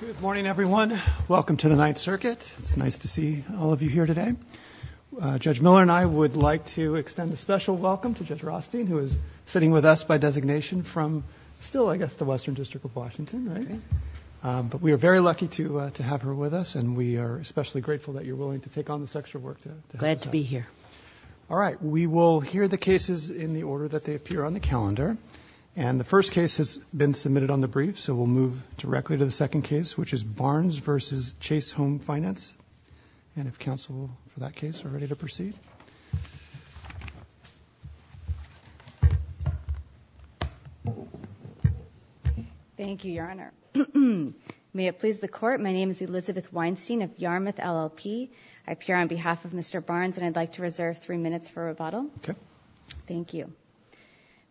Good morning, everyone. Welcome to the Ninth Circuit. It's nice to see all of you here today. Judge Miller and I would like to extend a special welcome to Judge Rostein, who is sitting with us by designation from still, I guess, the Western District of Washington, right? But we are very lucky to have her with us, and we are especially grateful that you're willing to take on this extra work. Glad to be here. All right, we will hear the cases in the order that they appear on the calendar. And the first case has been submitted on the brief, so we'll move directly to the second case, which is Barnes v. Chase Home Finance. And if counsel, for that case, are ready to proceed. Thank you, Your Honor. May it please the Court, my name is Elizabeth Weinstein of Yarmouth LLP. I appear on behalf of Mr. Barnes, and I'd like to reserve three minutes for rebuttal. Thank you.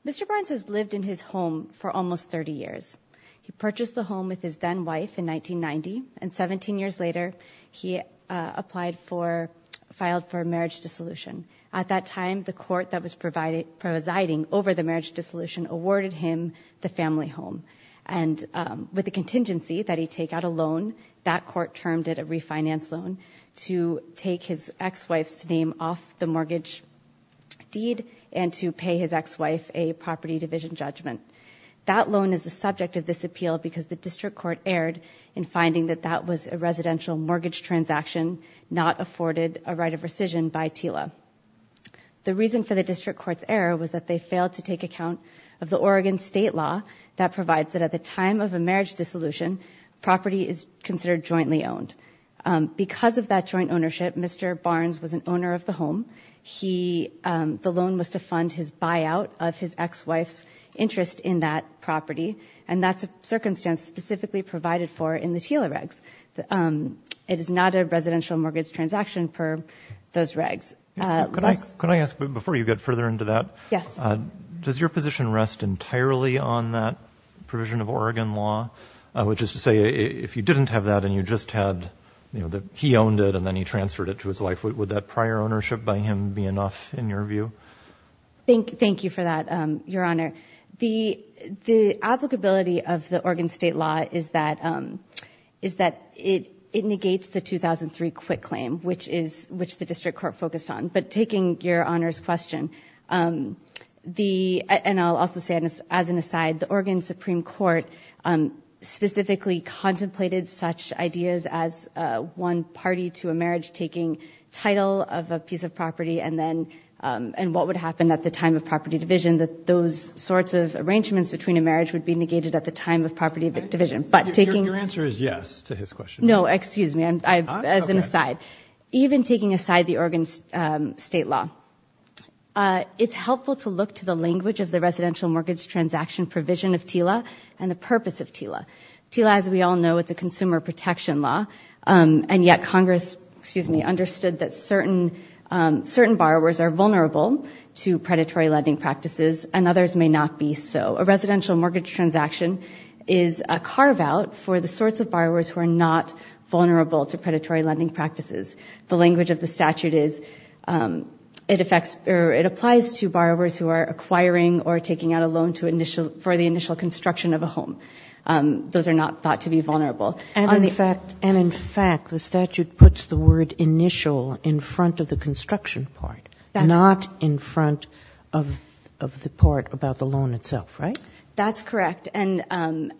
Mr. Barnes has lived in his home for almost 30 years. He purchased the home with his then-wife in 1990, and 17 years later, he applied for, filed for marriage dissolution. At that time, the court that was presiding over the marriage dissolution awarded him the family home. And with the contingency that he take out a loan, that court termed a refinance loan, to take his ex-wife's name off the mortgage deed and to pay his ex-wife a property division judgment. That loan is the subject of this appeal because the district court erred in finding that that was a residential mortgage transaction, not afforded a right of rescission by TILA. The reason for the district court's error was that they failed to take account of the Oregon state law that provides that at the time of Because of that joint ownership, Mr. Barnes was an owner of the home. The loan was to fund his buyout of his ex-wife's interest in that property, and that's a circumstance specifically provided for in the TILA regs. It is not a residential mortgage transaction per those regs. Can I ask, before you get further into that, does your position rest entirely on that provision of Oregon law? Which is to say, if you didn't have that and you just had, you know, he owned it and then he transferred it to his wife, would that prior ownership by him be enough in your view? Thank you for that, Your Honor. The applicability of the Oregon state law is that it negates the 2003 quit claim, which the district court focused on. But taking Your Honor's question, the, and I'll also say as an aside, the Oregon Supreme Court specifically contemplated such ideas as one party to a marriage taking title of a piece of property and then, and what would happen at the time of property division, that those sorts of arrangements between a marriage would be negated at the time of property division. But taking Your answer is yes to his question. No, excuse me, as an aside. Even taking aside the Oregon state law, it's helpful to look to the language of the residential mortgage transaction provision of TILA and the purpose of TILA. TILA, as we all know, it's a consumer protection law and yet Congress understood that certain borrowers are vulnerable to predatory lending practices and others may not be so. A residential mortgage transaction is a carve-out for the sorts of borrowers who are not vulnerable to predatory lending practices. The language of the statute is, it affects, or it applies to borrowers who are acquiring or taking out a loan to initial, for the initial construction of a home. Those are not thought to be vulnerable. And in fact, the statute puts the word initial in front of the construction part, not in the loan. That's correct. And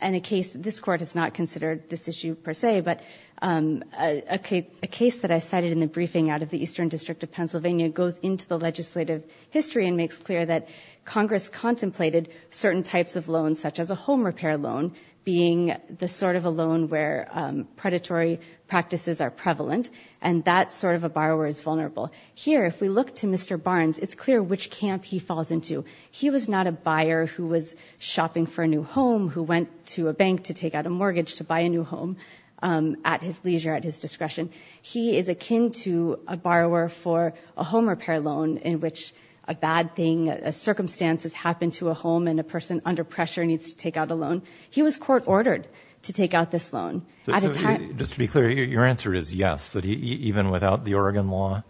in a case, this Court has not considered this issue per se, but a case that I cited in the briefing out of the Eastern District of Pennsylvania goes into the legislative history and makes clear that Congress contemplated certain types of loans, such as a home repair loan, being the sort of a loan where predatory practices are prevalent and that sort of a borrower is vulnerable. Here, if we look to Mr. Barnes, it's clear which camp he falls into. He was not a buyer who was shopping for a new home, who went to a bank to take out a mortgage to buy a new home at his leisure, at his discretion. He is akin to a borrower for a home repair loan in which a bad thing, a circumstance has happened to a home and a person under pressure needs to take out a loan. He was court ordered to take out this loan. Just to be clear, your answer is yes, that even without the Oregon law,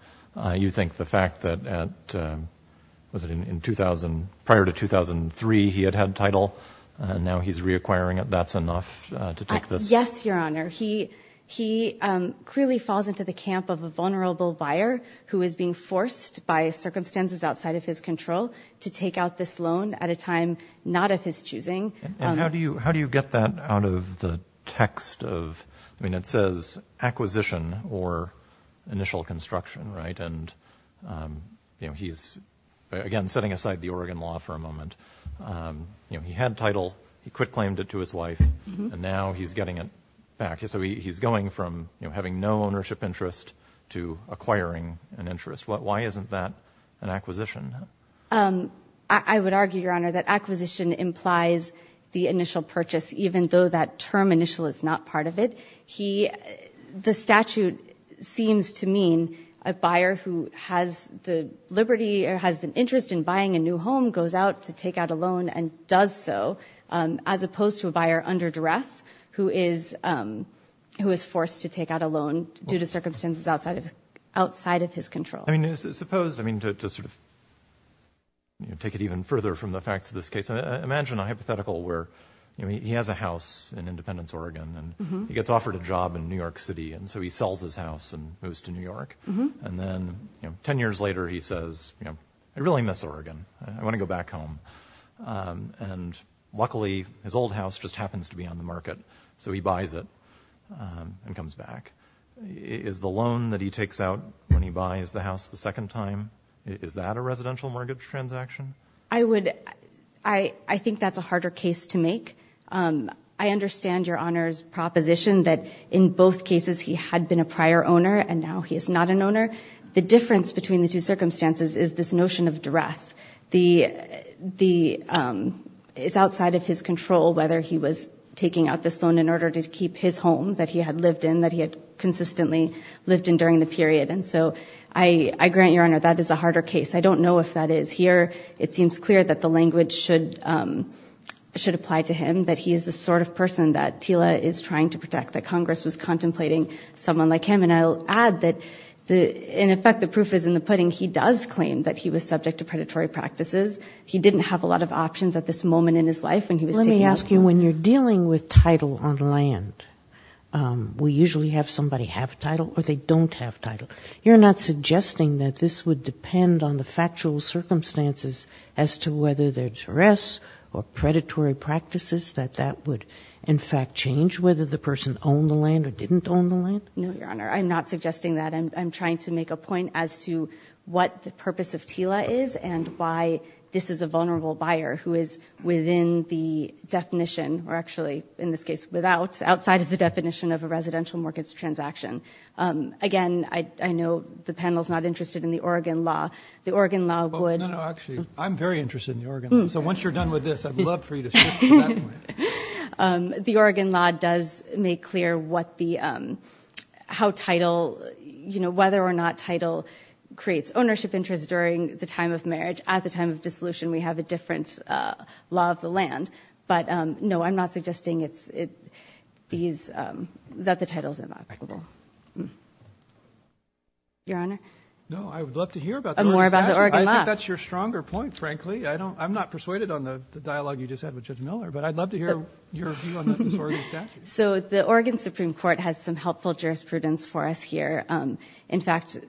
you think the was it in 2000, prior to 2003, he had had title and now he's reacquiring it. That's enough to take this? Yes, your honor. He, he clearly falls into the camp of a vulnerable buyer who is being forced by circumstances outside of his control to take out this loan at a time, not of his choosing. And how do you, how do you get that out of the text of, I mean, it says acquisition or purchase. You know, he's again, setting aside the Oregon law for a moment. You know, he had title, he quit claimed it to his wife and now he's getting it back. So he's going from having no ownership interest to acquiring an interest. Why isn't that an acquisition? I would argue, your honor, that acquisition implies the initial purchase, even though that term initial is not part of it. He, the statute seems to mean a buyer who has the liberty or has an interest in buying a new home, goes out to take out a loan and does so, um, as opposed to a buyer under duress who is, um, who is forced to take out a loan due to circumstances outside of, outside of his control. I mean, suppose, I mean, to, to sort of take it even further from the facts of this case, imagine a hypothetical where he has a house in Independence, Oregon, and he gets offered a job in New York city. And so he sells his house and moves to New York. And then 10 years later he says, you know, I really miss Oregon. I want to go back home. Um, and luckily his old house just happens to be on the market. So he buys it, um, and comes back is the loan that he takes out when he buys the house the second time. Is that a residential mortgage transaction? I would, I, I think that's a harder case to make. Um, I understand your Honor's proposition that in both cases he had been a prior owner and now he is not an owner. The difference between the two circumstances is this notion of duress. The, the, um, it's outside of his control whether he was taking out this loan in order to keep his home that he had lived in, that he had consistently lived in during the period. And so I, I grant your Honor, that is a harder case. I don't know if that is here. It seems clear that the language should, um, should apply to him, that he is the sort of person that Tila is trying to protect, that Congress was contemplating someone like him. And I'll add that the, in effect the proof is in the pudding. He does claim that he was subject to predatory practices. He didn't have a lot of options at this moment in his life when he was taking out the loan. Let me ask you, when you're dealing with title on land, um, we usually have somebody have title or they don't have title. You're not suggesting that this would depend on the factual circumstances as to whether they're duress or predatory practices, that that would in fact change whether the person owned the land or didn't own the land? No, your Honor. I'm not suggesting that. I'm, I'm trying to make a point as to what the purpose of Tila is and why this is a vulnerable buyer who is within the definition or actually in this case without, outside of the definition of a residential mortgage transaction. Um, again, I, I know the panel's not interested in the Oregon law. The Oregon law would... Oh, no, no, actually, I'm very interested in the Oregon law. So once you're done with this, I'd love for you to shift to that point. Um, the Oregon law does make clear what the, um, how title, you know, whether or not title creates ownership interest during the time of marriage. At the time of dissolution, we have a different, uh, law of the land. But, um, no, I'm not suggesting it's, it, these, um, that the title is inviolable. Your Honor? No, I would love to hear about the Oregon statute. More about the Oregon law. I think that's your stronger point, frankly. I don't, I'm not persuaded on the dialogue you just had with Judge Miller, but I'd love to hear your view on this Oregon statute. So the Oregon Supreme Court has some helpful jurisprudence for us here. Um, in fact,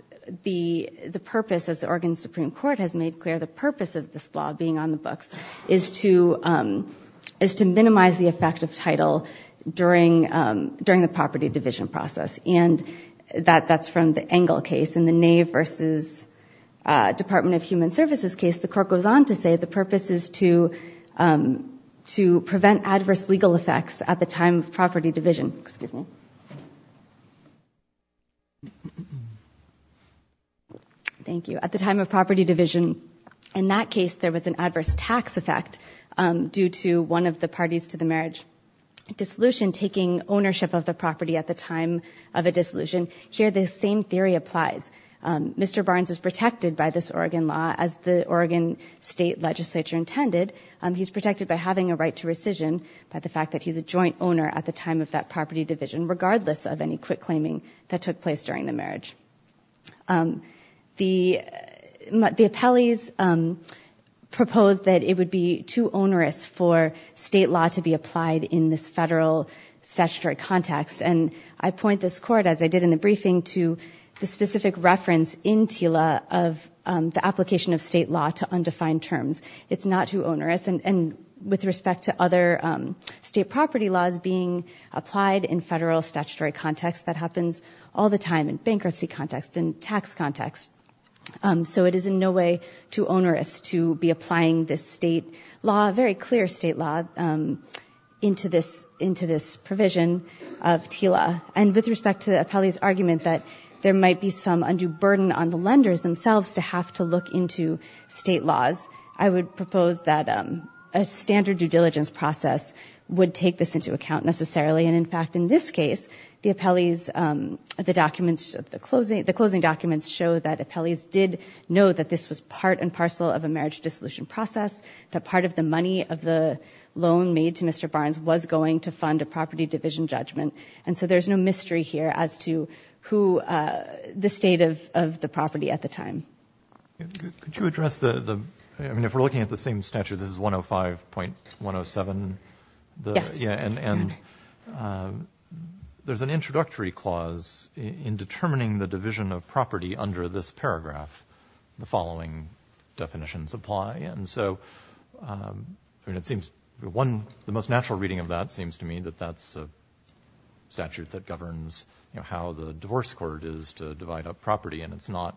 the, the purpose, as the Oregon Supreme Court has made clear, the purpose of this law being on the books is to, um, is to minimize the effect of title during, um, during the property division process. And that, that's from the Engle case. In the Nave versus, uh, Department of Human Services case, the court goes on to say the purpose is to, um, to prevent adverse legal effects at the time of property division. Excuse me. Thank you. At the time of property division, in that case, there was an adverse tax effect, um, due to one of the parties to the marriage dissolution taking ownership of the property at the time of a dissolution. Here, the same theory applies. Um, Mr. Barnes is protected by this Oregon law as the Oregon State Legislature intended. Um, he's protected by having a right to rescission, by the fact that he's a joint owner at the time of that property division, regardless of any quick claiming that took place during the marriage. Um, the, the appellees, um, proposed that it would be too onerous for state law to be applied in this federal statutory context. And I point this court, as I did in the briefing, to the specific reference in TILA of, um, the application of state law to undefined terms. It's not too onerous. And, and with respect to other, um, state property laws being applied in federal statutory context, that happens all the time in bankruptcy context and tax context. Um, so it is in no way too onerous to be applying this state law, very clear state law, um, into this, into this provision of TILA. And with respect to the appellee's argument that there might be some undue burden on the lenders themselves to have to look into state laws, I would propose that, um, a standard due diligence process would take this into account necessarily. And in fact, in this case, the appellees, um, the documents of the closing, the closing documents show that appellees did know that this was part and parcel of a marriage dissolution process, that part of the money of the loan made to Mr. Barnes was going to fund a property division judgment. And so there's no mystery here as to who, uh, the state of, of the property at the time. Could you address the, the, I mean, if we're looking at the same statute, this is 105.107. Yes. Yeah. And, and, um, there's an introductory clause in determining the division of property under this paragraph, the following definitions apply. And so, um, I mean, it seems one, the most natural reading of that seems to me that that's a statute that governs, you know, how the divorce court is to divide up property and it's not,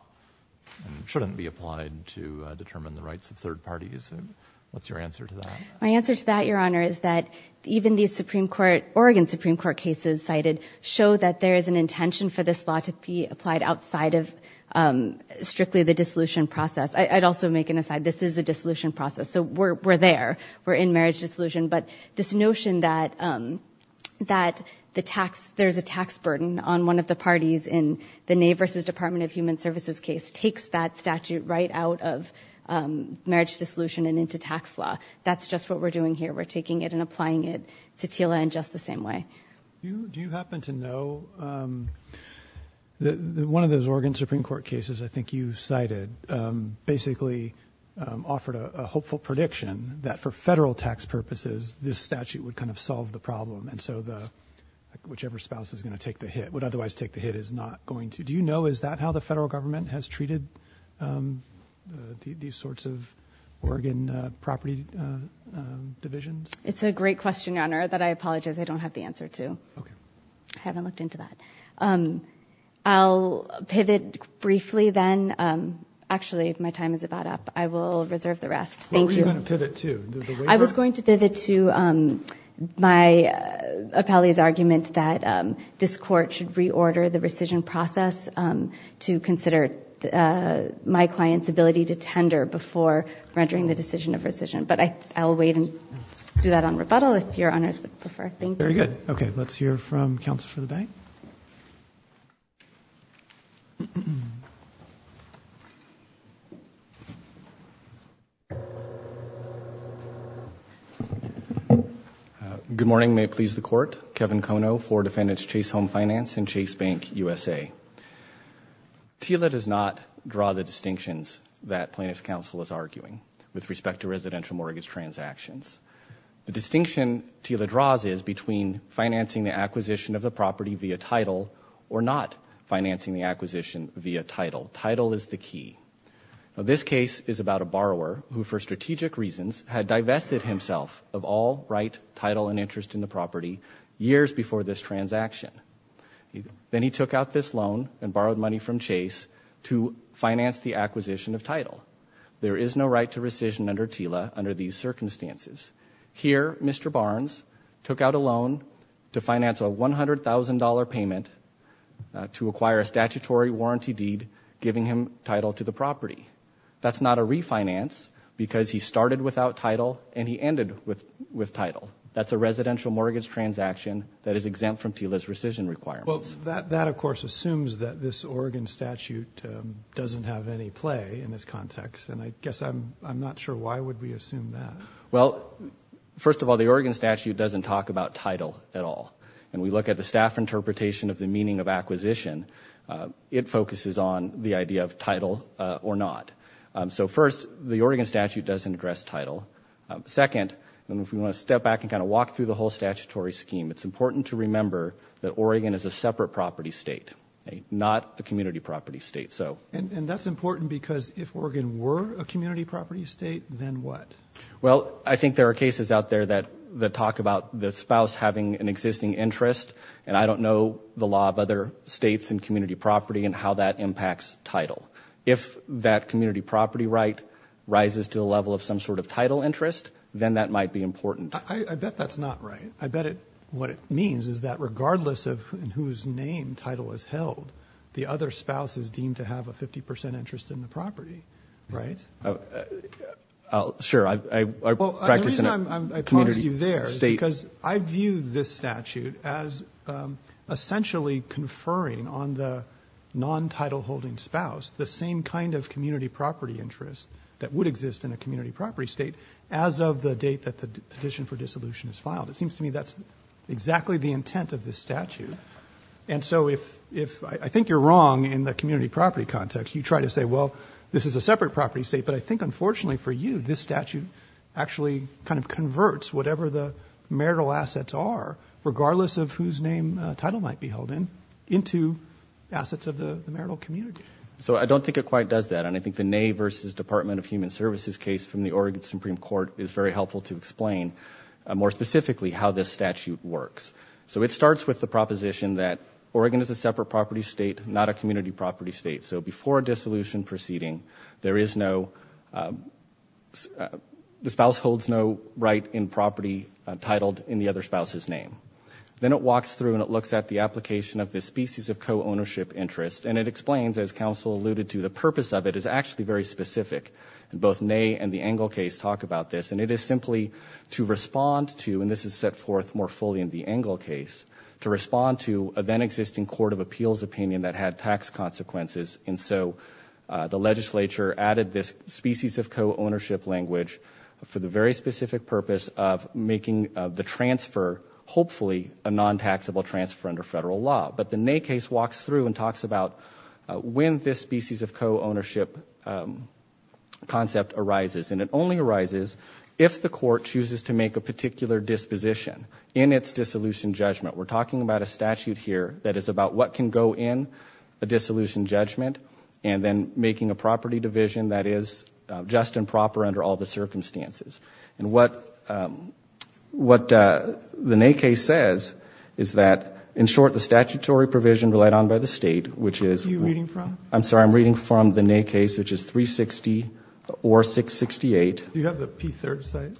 shouldn't be applied to determine the rights of third parties. What's your answer to that? My answer to that, your honor, is that even the Supreme court, Oregon Supreme court cases cited show that there is an intention for this law to be applied outside of, um, strictly the dissolution process. I'd also make an aside. This is a dissolution process. So we're, we're there, we're in marriage dissolution, but this notion that, um, that the tax, there's a tax burden on one of the parties in the neighbors, his department of human services case takes that statute right out of, um, marriage dissolution and into tax law. That's just what we're doing here. We're taking it and applying it to Tila in just the same way. Do you happen to know, um, the, one of those Oregon Supreme court cases, I think you cited, um, basically, um, a hopeful prediction that for federal tax purposes, this statute would kind of solve the problem. And so the, whichever spouse is going to take the hit would otherwise take the hit is not going to, do you know, is that how the federal government has treated, um, uh, these sorts of Oregon, uh, property, uh, um, divisions? It's a great question on her that I apologize. I don't have the answer to, I haven't looked into that. Um, I'll pivot briefly then. Um, actually my time is about up. I will reserve the rest. Thank you. I was going to pivot to, um, my appellee's argument that, um, this court should reorder the rescission process, um, to consider, uh, my client's ability to tender before rendering the decision of rescission. But I, I'll wait and do that on rebuttal if your honors would prefer. Thank you. Good morning. May it please the court. Kevin Kono for defendants Chase Home Finance and Chase Bank USA. TILA does not draw the distinctions that plaintiff's counsel is arguing with respect to residential mortgage transactions. The distinction TILA draws is between financing the acquisition of the property via title or not financing the acquisition via title. Title is the key. Now this case is about a borrower who for strategic reasons had divested himself of all right, title, and interest in the property years before this transaction. Then he took out this loan and borrowed money from Chase to finance the acquisition of title. There is no right to rescission under TILA under these circumstances. Here, Mr. Barnes took out a loan to finance a $100,000 payment, uh, to acquire a statutory warranty deed, giving him title to the property. That's not a refinance because he started without title and he ended with, with title. That's a residential mortgage transaction that is exempt from TILA's rescission requirements. Well, that, that of course assumes that this Oregon statute, um, doesn't have any play in this context. And I guess I'm, I'm not sure why would we assume that? Well, first of all, the Oregon statute doesn't talk about title at all. And we look at the staff interpretation of the meaning of acquisition. Uh, it focuses on the idea of title, uh, or not. Um, so first the Oregon statute doesn't address title. Um, second, and if we want to step back and kind of walk through the whole statutory scheme, it's important to remember that Oregon is a separate property state, not a community property state. So And, and that's important because if Oregon were a community property state, then what? Well, I think there are cases out there that, that talk about the spouse having an existing interest and I don't know the law of other states and community property and how that impacts title. If that community property right rises to a level of some sort of title interest, then that might be important. I bet that's not right. I bet it, what it means is that regardless of whose name title is held, the other spouse is deemed to have a 50% interest in the property, right? Uh, sure. I, I practice in a community state. The reason I paused you there is because I view this statute as, um, essentially conferring on the non-title holding spouse, the same kind of community property interest that would exist in a community property state as of the date that the petition for dissolution is filed. It seems to me that's exactly the intent of this statute. And so if, if I think you're wrong in the community property context, you try to say, well, this is a separate property state, but I think unfortunately for you, this statute actually kind of converts whatever the marital assets are, regardless of whose name a title might be held in into assets of the marital community. So I don't think it quite does that. And I think the neigh versus Department of Human Services case from the Oregon Supreme Court is very helpful to explain more specifically how this statute works. So it starts with the proposition that Oregon is a separate property state, not a community property state. So before dissolution proceeding, there is no, um, the spouse holds no right in property titled in the other spouse's name. Then it walks through and it looks at the application of this species of co-ownership interest. And it explains, as counsel alluded to, the purpose of it is actually very specific. Both neigh and the Engel case talk about this and it is simply to respond to, and this is set forth more fully in the Engel case, to respond to a then existing court of appeals opinion that had tax consequences. And so the legislature added this species of co-ownership language for the very specific purpose of making the transfer hopefully a non-taxable transfer under federal law. But the neigh case walks through and talks about when this species of co-ownership concept arises. And it only arises if the court chooses to make a particular disposition in its dissolution judgment. We're talking about a statute here that is about what can go in a dissolution judgment and then making a property division that is just and proper under all the circumstances. And what, um, what, uh, the neigh case says is that, in short, the statutory provision relied on by the state, which is... Are you reading from? I'm sorry, I'm reading from the neigh case, which is 360 or 668... Do you have the P3rd site?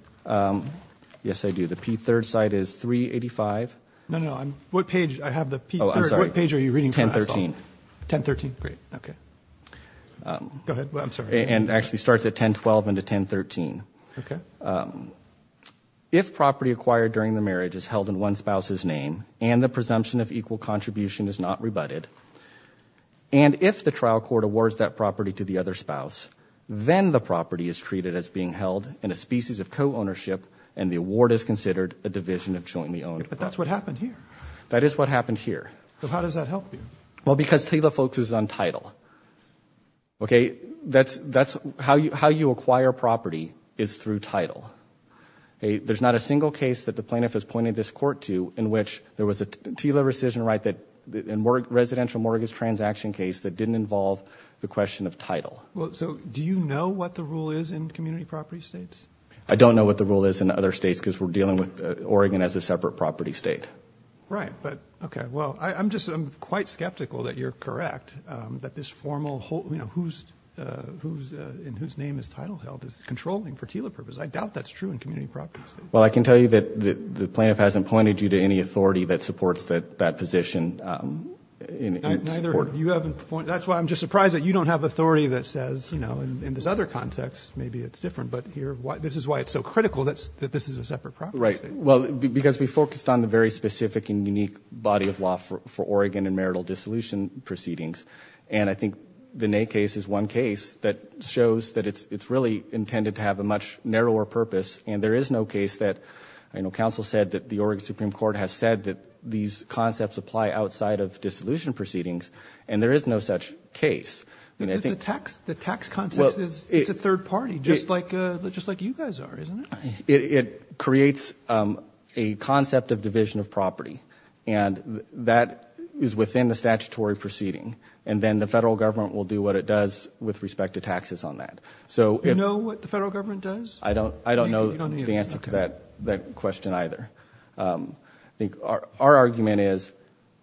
Yes, I do. The P3rd site is 385... No, no, I'm, what page, I have the P3rd... Oh, I'm sorry. What page are you reading from? 1013. 1013? Great, okay. Go ahead, I'm sorry. And actually starts at 1012 into 1013. Okay. Um, if property acquired during the marriage is held in one spouse's name and the presumption of equal contribution is not rebutted, and if the trial court awards that property to the other spouse, then the property is treated as being held in a species of co-ownership and the award is considered a division of jointly owned property. But that's what happened here. That is what happened here. So how does that help you? Well, because TILA focuses on title. Okay? That's, that's how you, how you acquire property is through title. Okay? There's not a single case that the plaintiff has pointed this court to in which there was a TILA rescission right that, in residential mortgage transaction case that didn't involve the question of title. Well, so do you know what the rule is in community property states? I don't know what the rule is in other states because we're dealing with Oregon as a separate property state. Right. But, okay. Well, I'm just, I'm quite skeptical that you're correct, um, that this formal whole, you know, who's, uh, who's, uh, in whose name is title held is controlling for TILA purposes. I doubt that's true in community property states. Well, I can tell you that the plaintiff hasn't pointed you to any authority that supports that, that position, um, in its court. That's why I'm just surprised that you don't have authority that says, you know, in this other context, maybe it's different, but here, this is why it's so critical that this is a separate property state. Right. Well, because we focused on the very specific and unique body of law for Oregon and marital dissolution proceedings. And I think the Ney case is one case that shows that it's, it's really intended to have a much narrower purpose. And there is no case that, you know, counsel said that the Oregon Supreme Court has said that these concepts apply outside of dissolution proceedings and there is no such case. The tax, the tax context is, it's a third party, just like, uh, just like you guys are, isn't it? It creates, um, a concept of division of property and that is within the statutory proceeding. And then the federal government will do what it does with respect to taxes on that. So if... You know what the federal government does? I don't, I don't know the answer to that, that question either. Um, I think our argument is,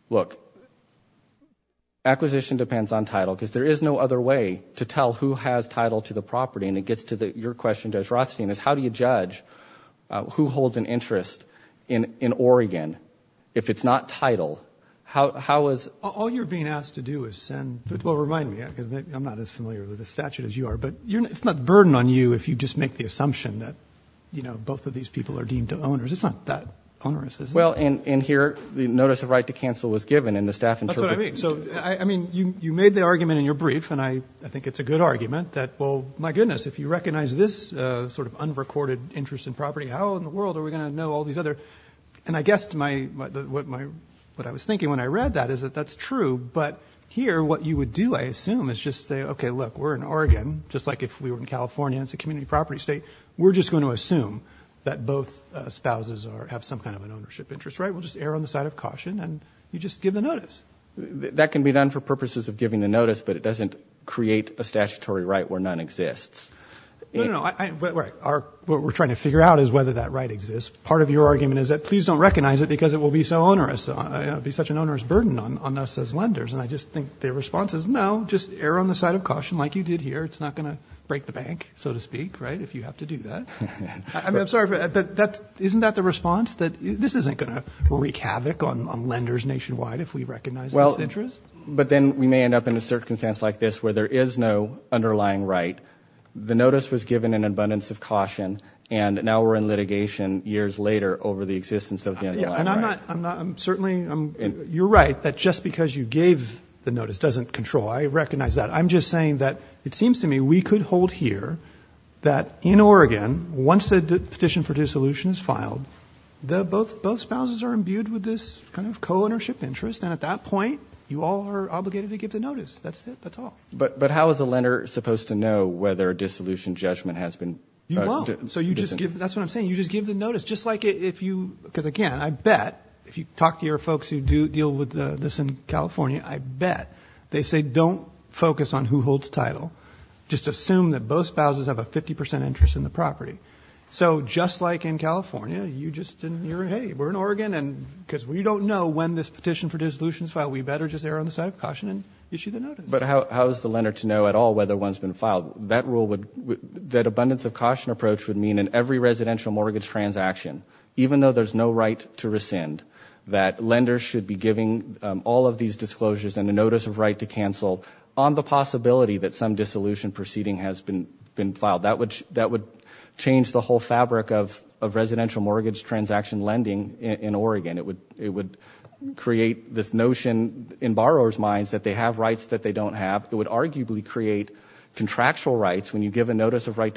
look, acquisition depends on title because there is no other way to tell who has title to the property and it gets to the, your question Judge Rothstein, is how do you judge, uh, who holds an interest in, in Oregon if it's not title? How, how is... All you're being asked to do is send, well, remind me, I'm not as familiar with the statute as you are, but you're, it's not a burden on you if you just make the assumption that, you know, both of these people are deemed to owners. It's not that onerous, is it? Well, and, and here the notice of right to cancel was given and the staff interpreted... That's what I mean. So I, I mean, you, you made the argument in your brief and I, I think it's a good argument that, well, my goodness, if you recognize this, uh, sort of unrecorded interest in property, how in the world are we going to know all these other... And I guessed my, my, my, what my, what I was thinking when I read that is that that's true, but here what you would do, I assume, is just say, okay, look, we're in Oregon, just like if we were in California, it's a community property state. We're just going to assume that both spouses are, have some kind of an ownership interest, right? We'll just err on the side of caution and you just give the notice. That can be done for purposes of giving the notice, but it doesn't create a statutory right where none exists. No, no, no. I, I, what we're, what we're trying to figure out is whether that right exists. Part of your argument is that please don't recognize it because it will be so onerous, uh, you know, it'd be such an onerous burden on, on us as lenders. And I just think the response is no, just err on the side of caution like you did here. It's not going to break the bank, so to speak, right? If you have to do that. I mean, I'm sorry, but that's, isn't that the response that this isn't going to wreak havoc on, on lenders nationwide if we recognize this interest? But then we may end up in a circumstance like this where there is no underlying right. The notice was given in abundance of caution and now we're in litigation years later over the existence of the underlying right. And I'm not, I'm not, I'm certainly, I'm, you're right that just because you gave the notice doesn't control. I recognize that. I'm just saying that it seems to me we could hold here that in Oregon, once the petition for dissolution is filed, the, both, both spouses are imbued with this kind of co-ownership interest. And at that point you all are obligated to give the notice. That's it. That's all. But how is a lender supposed to know whether a dissolution judgment has been, uh, You won't. So you just give, that's what I'm saying. You just give the notice. Just like if you, because again, I bet if you talk to your folks who do deal with the, this in California, I bet they say, don't focus on who holds title. Just assume that both spouses have a 50% interest in the property. So just like in California, you just didn't hear, Hey, we're in Oregon and because we don't know when this petition for dissolution is filed, we better just err on the side of caution and issue the notice. But how is the lender to know at all whether one's been filed? That rule would, that abundance of caution approach would mean in every residential mortgage transaction, even though there's no right to rescind, that lenders should be giving all of these disclosures and a notice of right to cancel on the possibility that some dissolution proceeding has been filed. That would, that would change the whole fabric of, of residential mortgage transaction lending in Oregon. It would, it would create this notion in borrower's minds that they have rights that they don't have. It would arguably create contractual rights when you give a right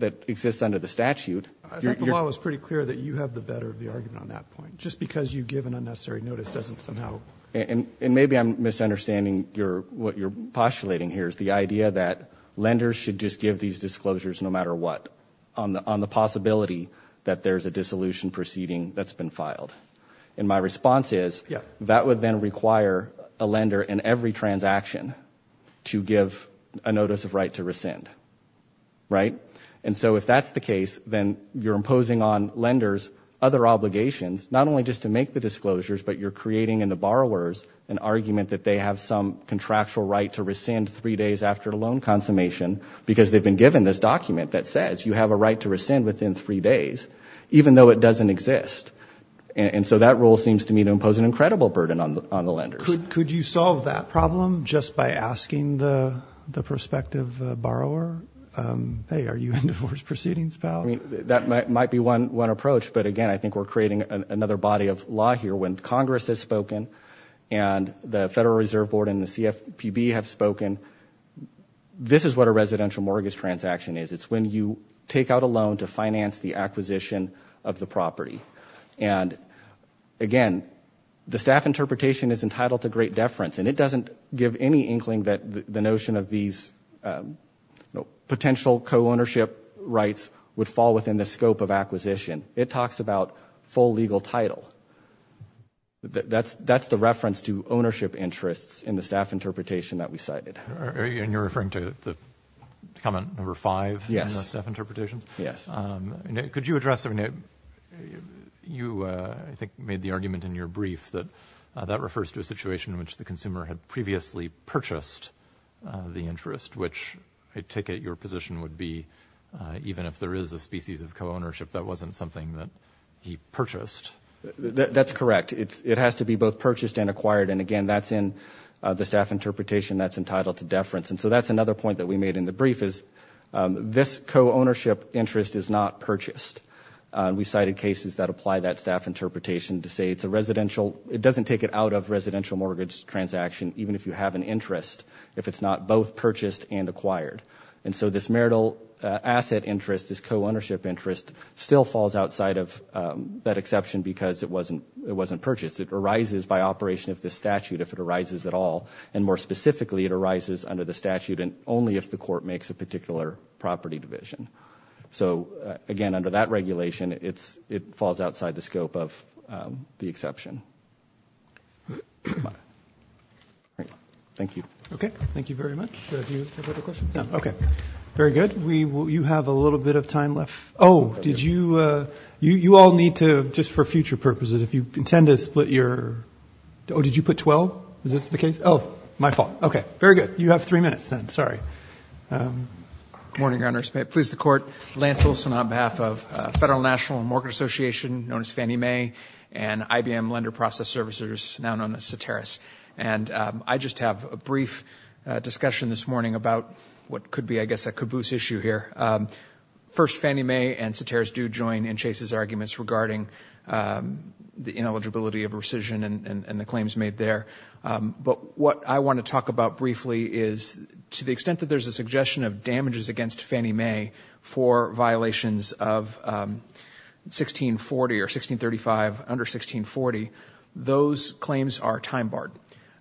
that exists under the statute. I think the law is pretty clear that you have the better of the argument on that point. Just because you give an unnecessary notice doesn't somehow. And maybe I'm misunderstanding your, what you're postulating here is the idea that lenders should just give these disclosures no matter what on the, on the possibility that there's a dissolution proceeding that's been filed. And my response is that would then require a lender in every transaction to give a notice of right to rescind. Right? And so if that's the case, then you're imposing on lenders other obligations, not only just to make the disclosures, but you're creating in the borrowers an argument that they have some contractual right to rescind three days after loan consummation because they've been given this document that says you have a right to rescind within three days, even though it doesn't exist. And, and so that rule seems to me to impose an incredible burden on the, on the lenders. Could, could you solve that problem just by asking the, the prospective borrower, hey, are you into forced proceedings, pal? That might, might be one, one approach. But again, I think we're creating another body of law here when Congress has spoken and the Federal Reserve Board and the CFPB have spoken. This is what a residential mortgage transaction is. It's when you take out a loan to finance the acquisition of the property. And again, the staff interpretation is entitled to great deference and it doesn't give any inkling that the notion of these potential co-ownership rights would fall within the scope of acquisition. It talks about full legal title. That's, that's the reference to ownership interests in the staff interpretation that we cited. And you're referring to the comment number five in the staff interpretation? Yes. Could you address, you I think made the argument in your brief that that refers to a situation in which the consumer had previously purchased the interest, which I take it your position would be even if there is a species of co-ownership, that wasn't something that he purchased. That's correct. It's, it has to be both purchased and acquired. And again, that's in the staff interpretation that's entitled to deference. And so that's another point that we made in the brief is this co-ownership interest is not purchased. We cited cases that apply that staff interpretation to say it's a residential, it doesn't take it out of residential mortgage transaction, even if you have an interest, if it's not both purchased and acquired. And so this marital asset interest, this co-ownership interest still falls outside of that exception because it wasn't, it wasn't purchased. It arises by operation of the statute if it arises at all. And more specifically, it arises under the statute and only if the court makes a particular property division. So again, under that regulation, it's, it falls outside the scope of the exception. Thank you. Okay. Thank you very much. Okay. Very good. We, you have a little bit of time left. Oh, did you, you, you all need to, just for future purposes, if you intend to split your, oh, did you put 12? Is this the case? Oh, my fault. Okay. Very good. You have three minutes then. Sorry. Good morning, Your Honor. Please the Court. Lance Olson on behalf of Federal National Mortgage Association, known as Fannie Mae, and IBM Lender Process Servicers, now known as Soteris. And I just have a brief discussion this morning about what could be, I guess, a caboose issue here. First, Fannie Mae and Soteris do join in Chase's arguments regarding the ineligibility of rescission and the claims made there. But what I want to talk about briefly is, to the extent that there's a suggestion of damages against Fannie Mae for violations of 1640 or 1635 under 1640, those claims are time barred.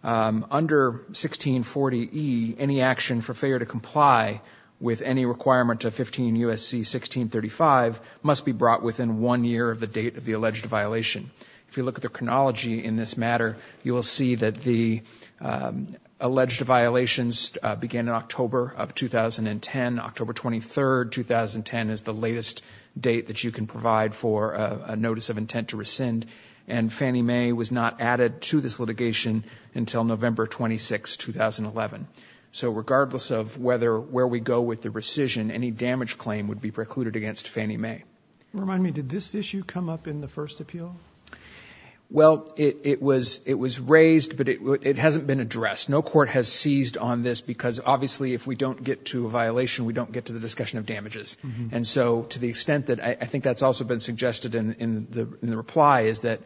Under 1640E, any action for failure to comply with any requirement of 15 U.S.C. 1635 must be brought within one year of the date of the alleged violation. If you look at the chronology in this matter, you will see that the alleged violations began in October of 2010. October 23, 2010, is the latest date that you can provide for a notice of intent to rescind. And Fannie Mae was not added to this litigation until November 26, 2011. So regardless of where we go with the rescission, any damage claim would be precluded against Fannie Mae. Remind me, did this issue come up in the first appeal? Well, it was raised, but it hasn't been addressed. No court has seized on this, because obviously if we don't get to a violation, we don't get to the discussion of damages. And so to the extent that I think that's also been suggested in the reply is that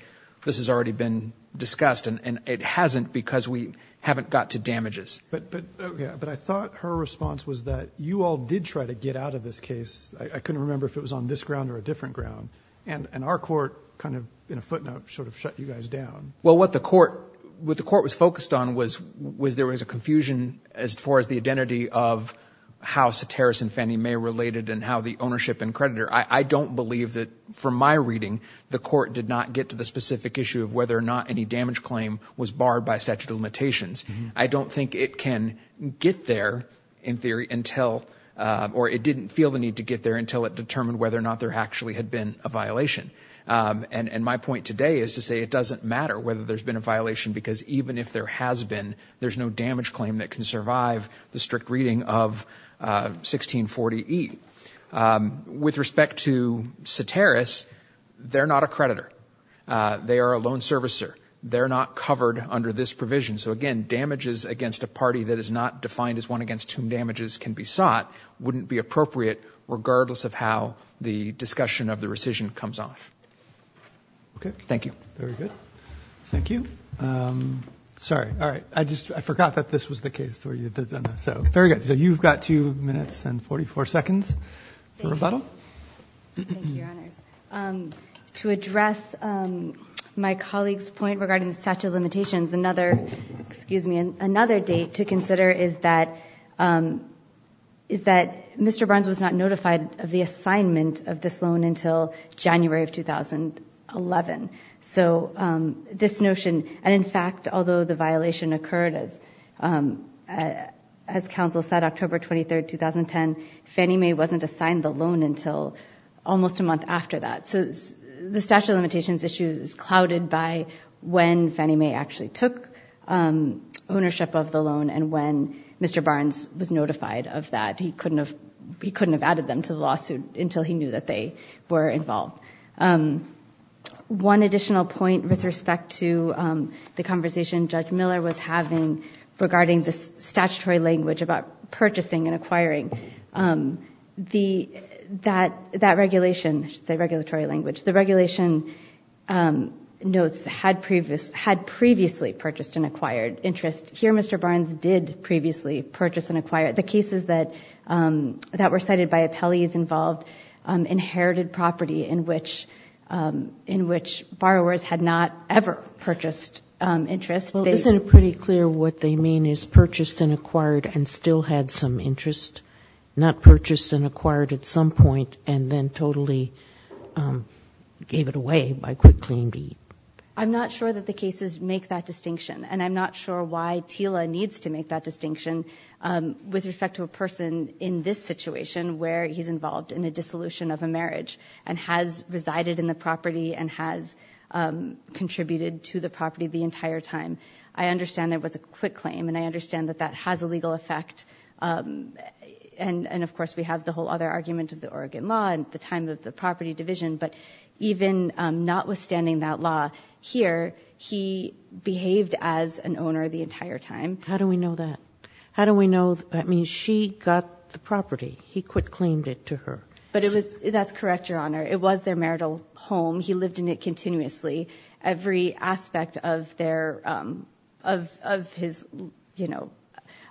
this has already been discussed, and it hasn't because we haven't got to damages. But I thought her response was that you all did try to get out of this case. I couldn't remember if it was on this ground or a different ground. And our court kind of, in a footnote, sort of shut you guys down. Well, what the court was focused on was there was a confusion as far as the identity of how Ceteris and Fannie Mae related and how the ownership and creditor. I don't believe that from my reading, the court did not get to the specific issue of whether or not any damage claim was barred by statute of limitations. I don't think it can get there in theory until, or it didn't feel the need to get there until it determined whether or not there actually had been a violation. And my point today is to say it doesn't matter whether there's been a violation, because even if there has been, there's no damage claim that can survive the strict reading of 1640E. With respect to Ceteris, they're not a creditor. They are a loan servicer. They're not covered under this provision. So again, damages against a party that is not defined as one against whom damages can be sought wouldn't be appropriate, regardless of how the discussion of the rescission comes off. Okay. Thank you. Very good. Thank you. Sorry. All right. I just, I forgot that this was the case. So very good. So you've got two minutes and 44 seconds for rebuttal. Thank you, Your Honors. To address my colleague's point regarding the statute of limitations, excuse me, another date to consider is that Mr. Barnes was not notified of the assignment of this loan until January of 2011. So this notion, and in fact, although the violation occurred, as counsel said, October 23rd, 2010, Fannie Mae wasn't assigned the loan until almost a month after that. So the statute of limitations issue is clouded by when Fannie Mae actually took ownership of the loan and when Mr. Barnes was notified of that. He couldn't have added them to the lawsuit until he knew that they were involved. One additional point with respect to the conversation Judge Miller was having regarding the statutory language about purchasing and acquiring, the, that regulation, I should say regulatory language, the regulation notes had previously purchased and acquired interest. Here Mr. Barnes did previously purchase and acquire. The cases that were cited by appellees involved inherited property in which borrowers had not ever purchased interest. Well, isn't it pretty clear what they mean is purchased and acquired and still had some purchase and acquired at some point and then totally gave it away by quick claim deed? I'm not sure that the cases make that distinction and I'm not sure why TILA needs to make that distinction with respect to a person in this situation where he's involved in a dissolution of a marriage and has resided in the property and has contributed to the property the entire time. I understand there was a quick claim and I understand that that has a legal effect um and and of course we have the whole other argument of the Oregon law and the time of the property division but even notwithstanding that law here he behaved as an owner the entire time. How do we know that? How do we know, I mean she got the property, he quick claimed it to her. But it was, that's correct your honor, it was their marital home. He lived in it continuously. Every aspect of their um of of his you know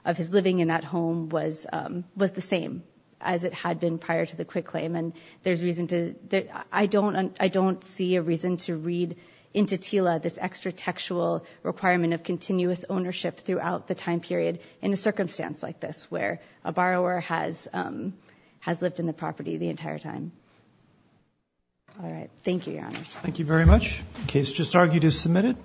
of his living in that home was um was the same as it had been prior to the quick claim and there's reason to that I don't I don't see a reason to read into TILA this extra textual requirement of continuous ownership throughout the time period in a circumstance like this where a borrower has um has lived in the property the case just argued is submitted.